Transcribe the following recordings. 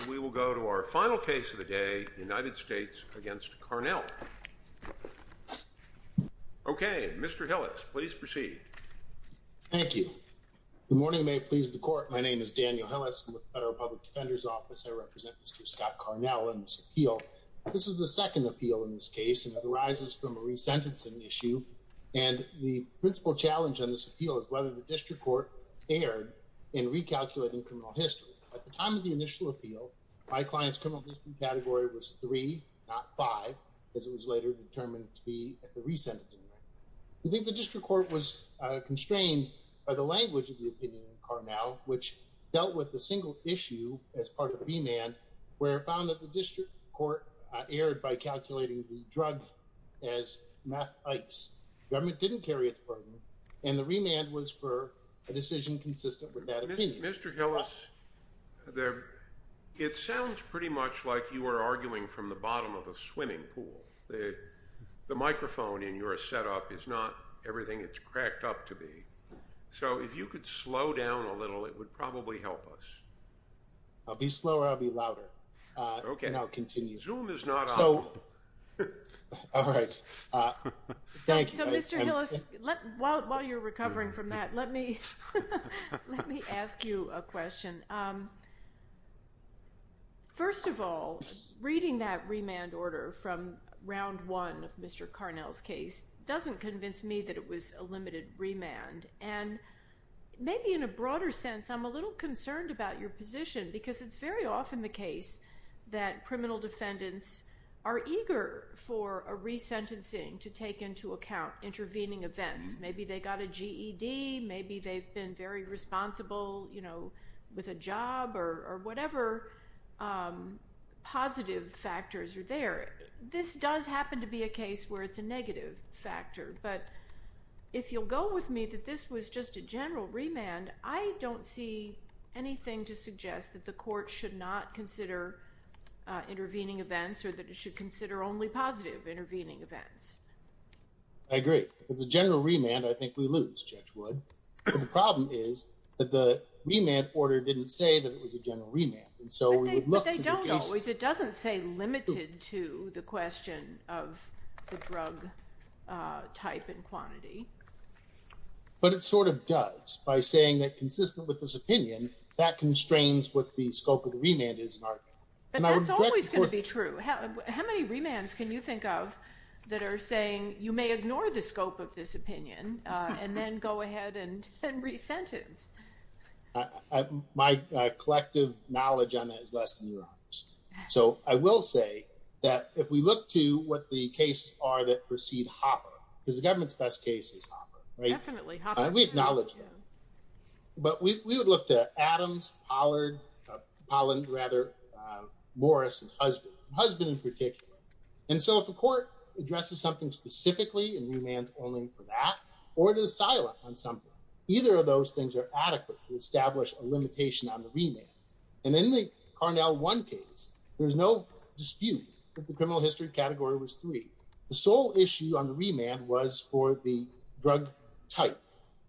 And we will go to our final case of the day, United States v. Carnell. Okay, Mr. Hillis, please proceed. Thank you. Good morning, may it please the Court. My name is Daniel Hillis. With the Federal Public Defender's Office, I represent Mr. Scott Carnell in this appeal. This is the second appeal in this case, and it arises from a re-sentencing issue. And the principal challenge on this appeal is whether the District Court erred in recalculating criminal history. At the time of the initial appeal, my client's criminal history category was 3, not 5, as it was later determined to be at the re-sentencing rate. I think the District Court was constrained by the language of the opinion in Carnell, which dealt with the single issue as part of the remand, where it found that the District Court erred by calculating the drug as meth-itis. The government didn't carry its burden, and the remand was for a decision consistent with that opinion. Mr. Hillis, it sounds pretty much like you are arguing from the bottom of a swimming pool. The microphone in your setup is not everything it's cracked up to be. So if you could slow down a little, it would probably help us. I'll be slower, I'll be louder. Okay. And I'll continue. Zoom is not on. All right. Thank you. So, Mr. Hillis, while you're recovering from that, let me ask you a question. First of all, reading that remand order from round one of Mr. Carnell's case doesn't convince me that it was a limited remand. And maybe in a broader sense, I'm a little concerned about your position, because it's very often the case that criminal defendants are eager for a resentencing to take into account intervening events. Maybe they got a GED. Maybe they've been very responsible, you know, with a job or whatever positive factors are there. This does happen to be a case where it's a negative factor. But if you'll go with me that this was just a general remand, I don't see anything to suggest that the court should not consider intervening events or that it should consider only positive intervening events. I agree. If it's a general remand, I think we lose, Judge Wood. The problem is that the remand order didn't say that it was a general remand. But they don't always. It doesn't say limited to the question of the drug type and quantity. But it sort of does by saying that consistent with this opinion, that constrains what the scope of the remand is. But that's always going to be true. How many remands can you think of that are saying you may ignore the scope of this opinion and then go ahead and resentence? My collective knowledge on that is less than yours. So I will say that if we look to what the cases are that precede Hopper, because the government's best case is Hopper, right? Definitely, Hopper. We acknowledge that. But we would look to Adams, Pollard, Polland rather, Morris, and Husband. Husband in particular. And so if a court addresses something specifically and remands only for that, or it is silent on something, either of those things are adequate to establish a limitation on the remand. And in the Carnell 1 case, there's no dispute that the criminal history category was 3. The sole issue on the remand was for the drug type.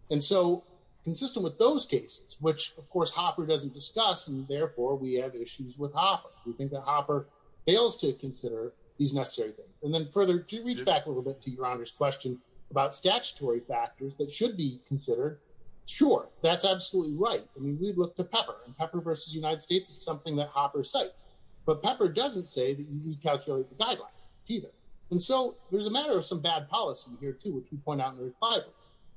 And so consistent with those cases, which, of course, Hopper doesn't discuss, and therefore we have issues with Hopper. We think that Hopper fails to consider these necessary things. And then further, to reach back a little bit to Your Honor's question about statutory factors that should be considered. Sure, that's absolutely right. I mean, we'd look to Pepper. And Pepper versus United States is something that Hopper cites. But Pepper doesn't say that you need to calculate the guideline either. And so there's a matter of some bad policy here, too, which we point out in the refinery.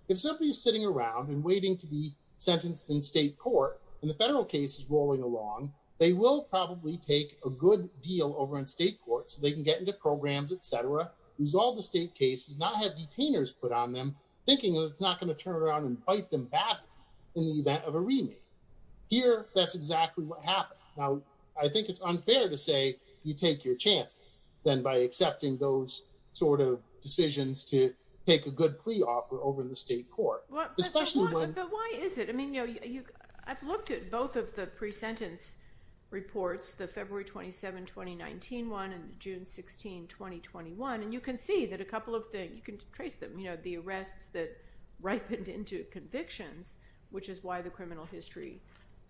If somebody is sitting around and waiting to be sentenced in state court, and the federal case is rolling along, they will probably take a good deal over in state court so they can get into programs, et cetera, resolve the state cases, not have detainers put on them, thinking that it's not going to turn around and bite them back in the event of a remand. Here, that's exactly what happened. Now, I think it's unfair to say you take your chances then by accepting those sort of decisions to take a good plea offer over in the state court. But why is it? I mean, I've looked at both of the pre-sentence reports, the February 27, 2019 one and the June 16, 2021, and you can see that a couple of things, you can trace them, you know, the arrests that ripened into convictions, which is why the criminal history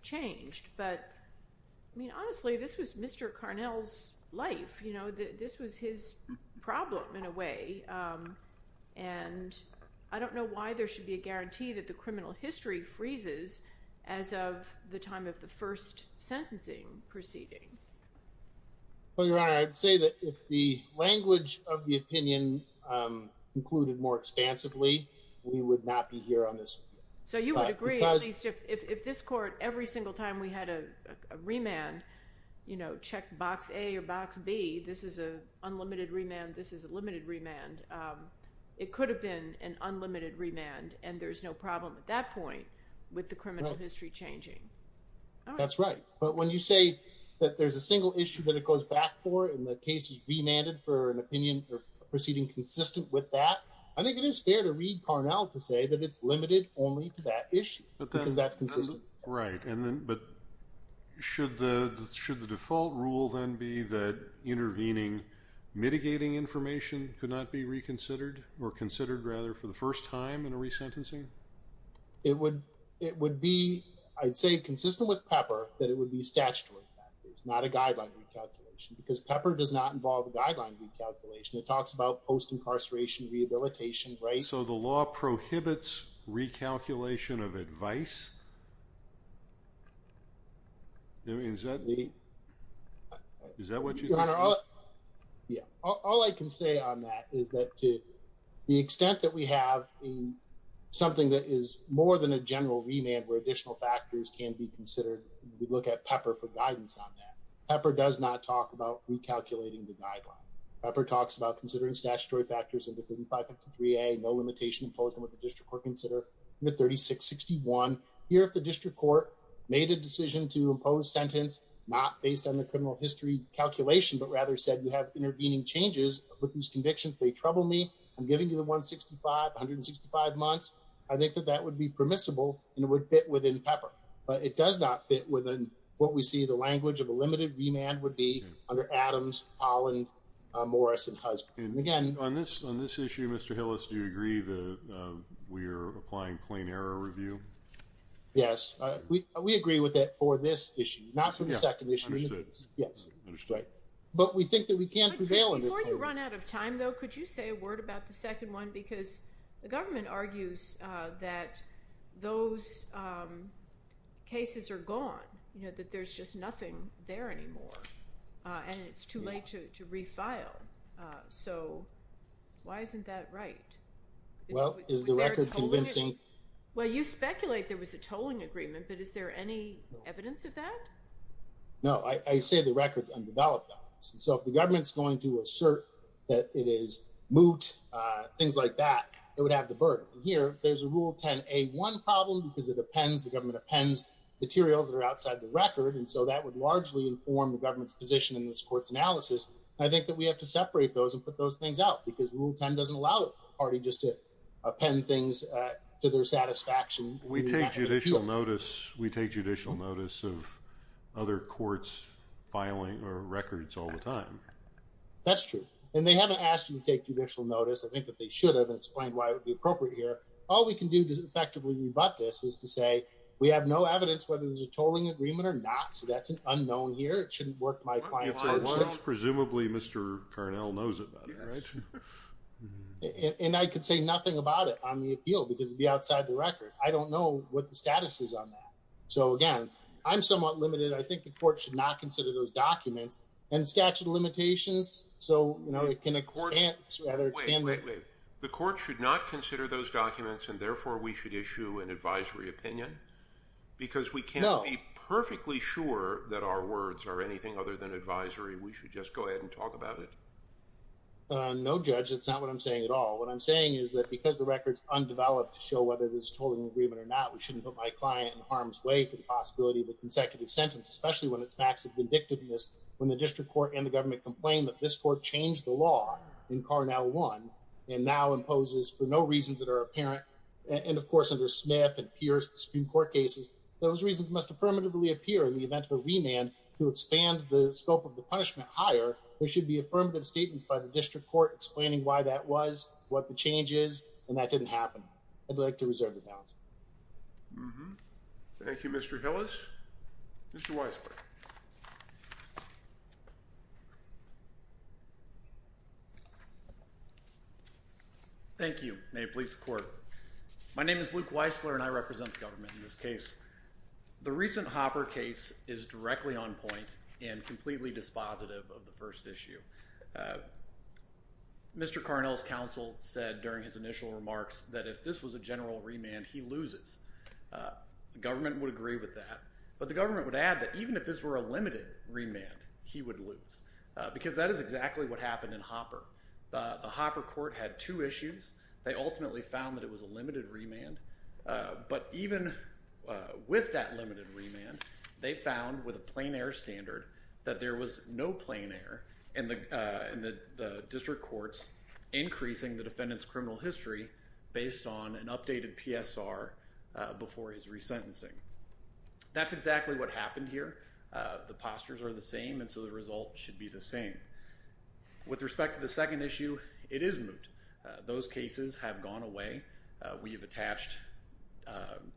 changed. But, I mean, honestly, this was Mr. Carnell's life. You know, this was his problem in a way. And I don't know why there should be a guarantee that the criminal history freezes as of the time of the first sentencing proceeding. Well, Your Honor, I'd say that if the language of the opinion included more expansively, we would not be here on this. So you would agree, at least if this court, every single time we had a remand, you know, check box A or box B, this is an unlimited remand, this is a limited remand, it could have been an unlimited remand, and there's no problem at that point with the criminal history changing. That's right. But when you say that there's a single issue that it goes back for and the case is remanded for an opinion proceeding consistent with that, I think it is fair to read Carnell to say that it's limited only to that issue because that's consistent. Right, but should the default rule then be that intervening, mitigating information could not be reconsidered, or considered rather for the first time in a resentencing? It would be, I'd say, consistent with Pepper that it would be statutory factors, not a guideline recalculation, because Pepper does not involve a guideline recalculation. It talks about post-incarceration rehabilitation, right? So the law prohibits recalculation of advice? Is that what you think? Yeah, all I can say on that is that to the extent that we have something that is more than a general remand where additional factors can be considered, we look at Pepper for guidance on that. Pepper does not talk about recalculating the guideline. Pepper talks about considering statutory factors under 3553A, no limitation imposed on what the district court consider under 3661. Here if the district court made a decision to impose sentence not based on the criminal history calculation, but rather said you have intervening changes with these convictions, they trouble me, I'm giving you the 165, 165 months, I think that that would be permissible and it would fit within Pepper. But it does not fit within what we see the language of a limited remand would be under Adams, Polland, Morris, and Husband. And again... On this issue, Mr. Hillis, do you agree that we are applying plain error review? Yes, we agree with that for this issue, not for the second issue. Understood. Yes. Understood. But we think that we can't prevail... Before you run out of time, though, could you say a word about the second one? Because the government argues that those cases are gone, you know, that there's just nothing there anymore. And it's too late to refile. So why isn't that right? Well, is the record convincing? Well, you speculate there was a tolling agreement, but is there any evidence of that? No, I say the record is undeveloped. So if the government's going to assert that it is moot, things like that, it would have the burden. Here, there's a Rule 10a1 problem because it appends, the government appends materials that are outside the record. And so that would largely inform the government's position in this court's analysis. I think that we have to separate those and put those things out because Rule 10 doesn't allow the party just to append things to their satisfaction. We take judicial notice. We take judicial notice of other courts filing records all the time. That's true. And they haven't asked you to take judicial notice. I think that they should have explained why it would be appropriate here. All we can do to effectively rebut this is to say we have no evidence whether there's a tolling agreement or not. So that's an unknown here. It shouldn't work to my client's advantage. Presumably, Mr. Carnell knows about it, right? And I can say nothing about it on the appeal because it would be outside the record. I don't know what the status is on that. So, again, I'm somewhat limited. I think the court should not consider those documents. And statute of limitations, so, you know, it can expand. Wait, wait, wait. The court should not consider those documents and, therefore, we should issue an advisory opinion? No. Because we can't be perfectly sure that our words are anything other than advisory. We should just go ahead and talk about it. No, Judge, that's not what I'm saying at all. What I'm saying is that because the record's undeveloped to show whether there's a tolling agreement or not, we shouldn't put my client in harm's way for the possibility of a consecutive sentence, especially when it's facts of vindictiveness, when the district court and the government complain that this court changed the law in Carnell 1 and now imposes for no reasons that are apparent, and, of course, under Smith and Pierce, the Supreme Court cases, those reasons must affirmatively appear in the event of a remand to expand the scope of the punishment higher. There should be affirmative statements by the district court explaining why that was, what the change is, and that didn't happen. I'd like to reserve the balance. Mm-hmm. Thank you, Mr. Hillis. Mr. Weisler. Thank you. May it please the Court. My name is Luke Weisler, and I represent the government in this case. The recent Hopper case is directly on point and completely dispositive of the first issue. Mr. Carnell's counsel said during his initial remarks that if this was a general remand, he loses. The government would agree with that, but the government would add that even if this were a limited remand, he would lose, because that is exactly what happened in Hopper. The Hopper court had two issues. They ultimately found that it was a limited remand, but even with that limited remand, they found with a plain-air standard that there was no plain-air in the district courts increasing the defendant's criminal history based on an updated PSR before his resentencing. That's exactly what happened here. The postures are the same, and so the result should be the same. With respect to the second issue, it is moot. Those cases have gone away. We have attached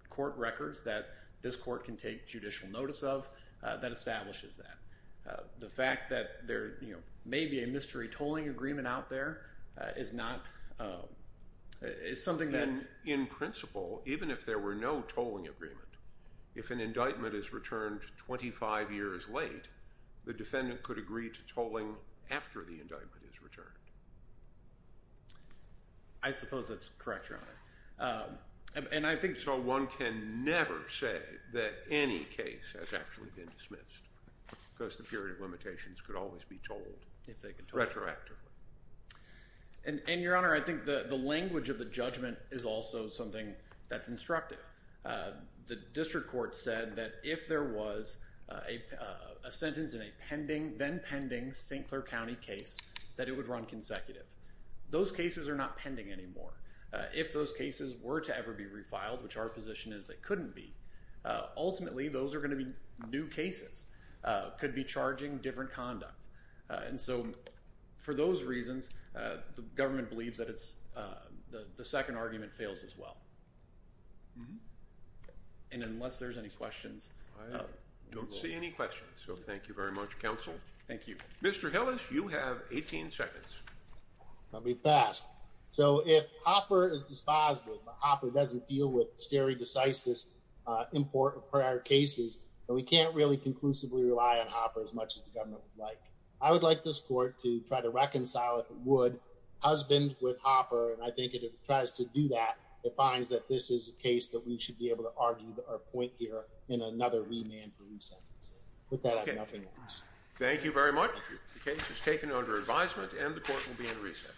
court records that this court can take judicial notice of that establishes that. The fact that there may be a mystery tolling agreement out there is something that... In principle, even if there were no tolling agreement, if an indictment is returned 25 years late, the defendant could agree to tolling after the indictment is returned. I suppose that's correct, Your Honor. And I think... So one can never say that any case has actually been dismissed, because the period of limitations could always be tolled retroactively. And, Your Honor, I think the language of the judgment is also something that's instructive. The district court said that if there was a sentence in a pending, then pending, St. Clair County case, that it would run consecutive. Those cases are not pending anymore. If those cases were to ever be refiled, which our position is they couldn't be, ultimately those are going to be new cases, could be charging different conduct. And so for those reasons, the government believes that the second argument fails as well. And unless there's any questions... I don't see any questions, so thank you very much, Counsel. Thank you. Mr. Hillis, you have 18 seconds. I'll be fast. So if Hopper is disposible, but Hopper doesn't deal with stare decisis import of prior cases, then we can't really conclusively rely on Hopper as much as the government would like. I would like this court to try to reconcile, if it would, husband with Hopper, and I think if it tries to do that, it finds that this is a case that we should be able to argue or point here in another remand for re-sentencing. With that, I have nothing else. Thank you very much. The case is taken under advisement and the court will be in recess.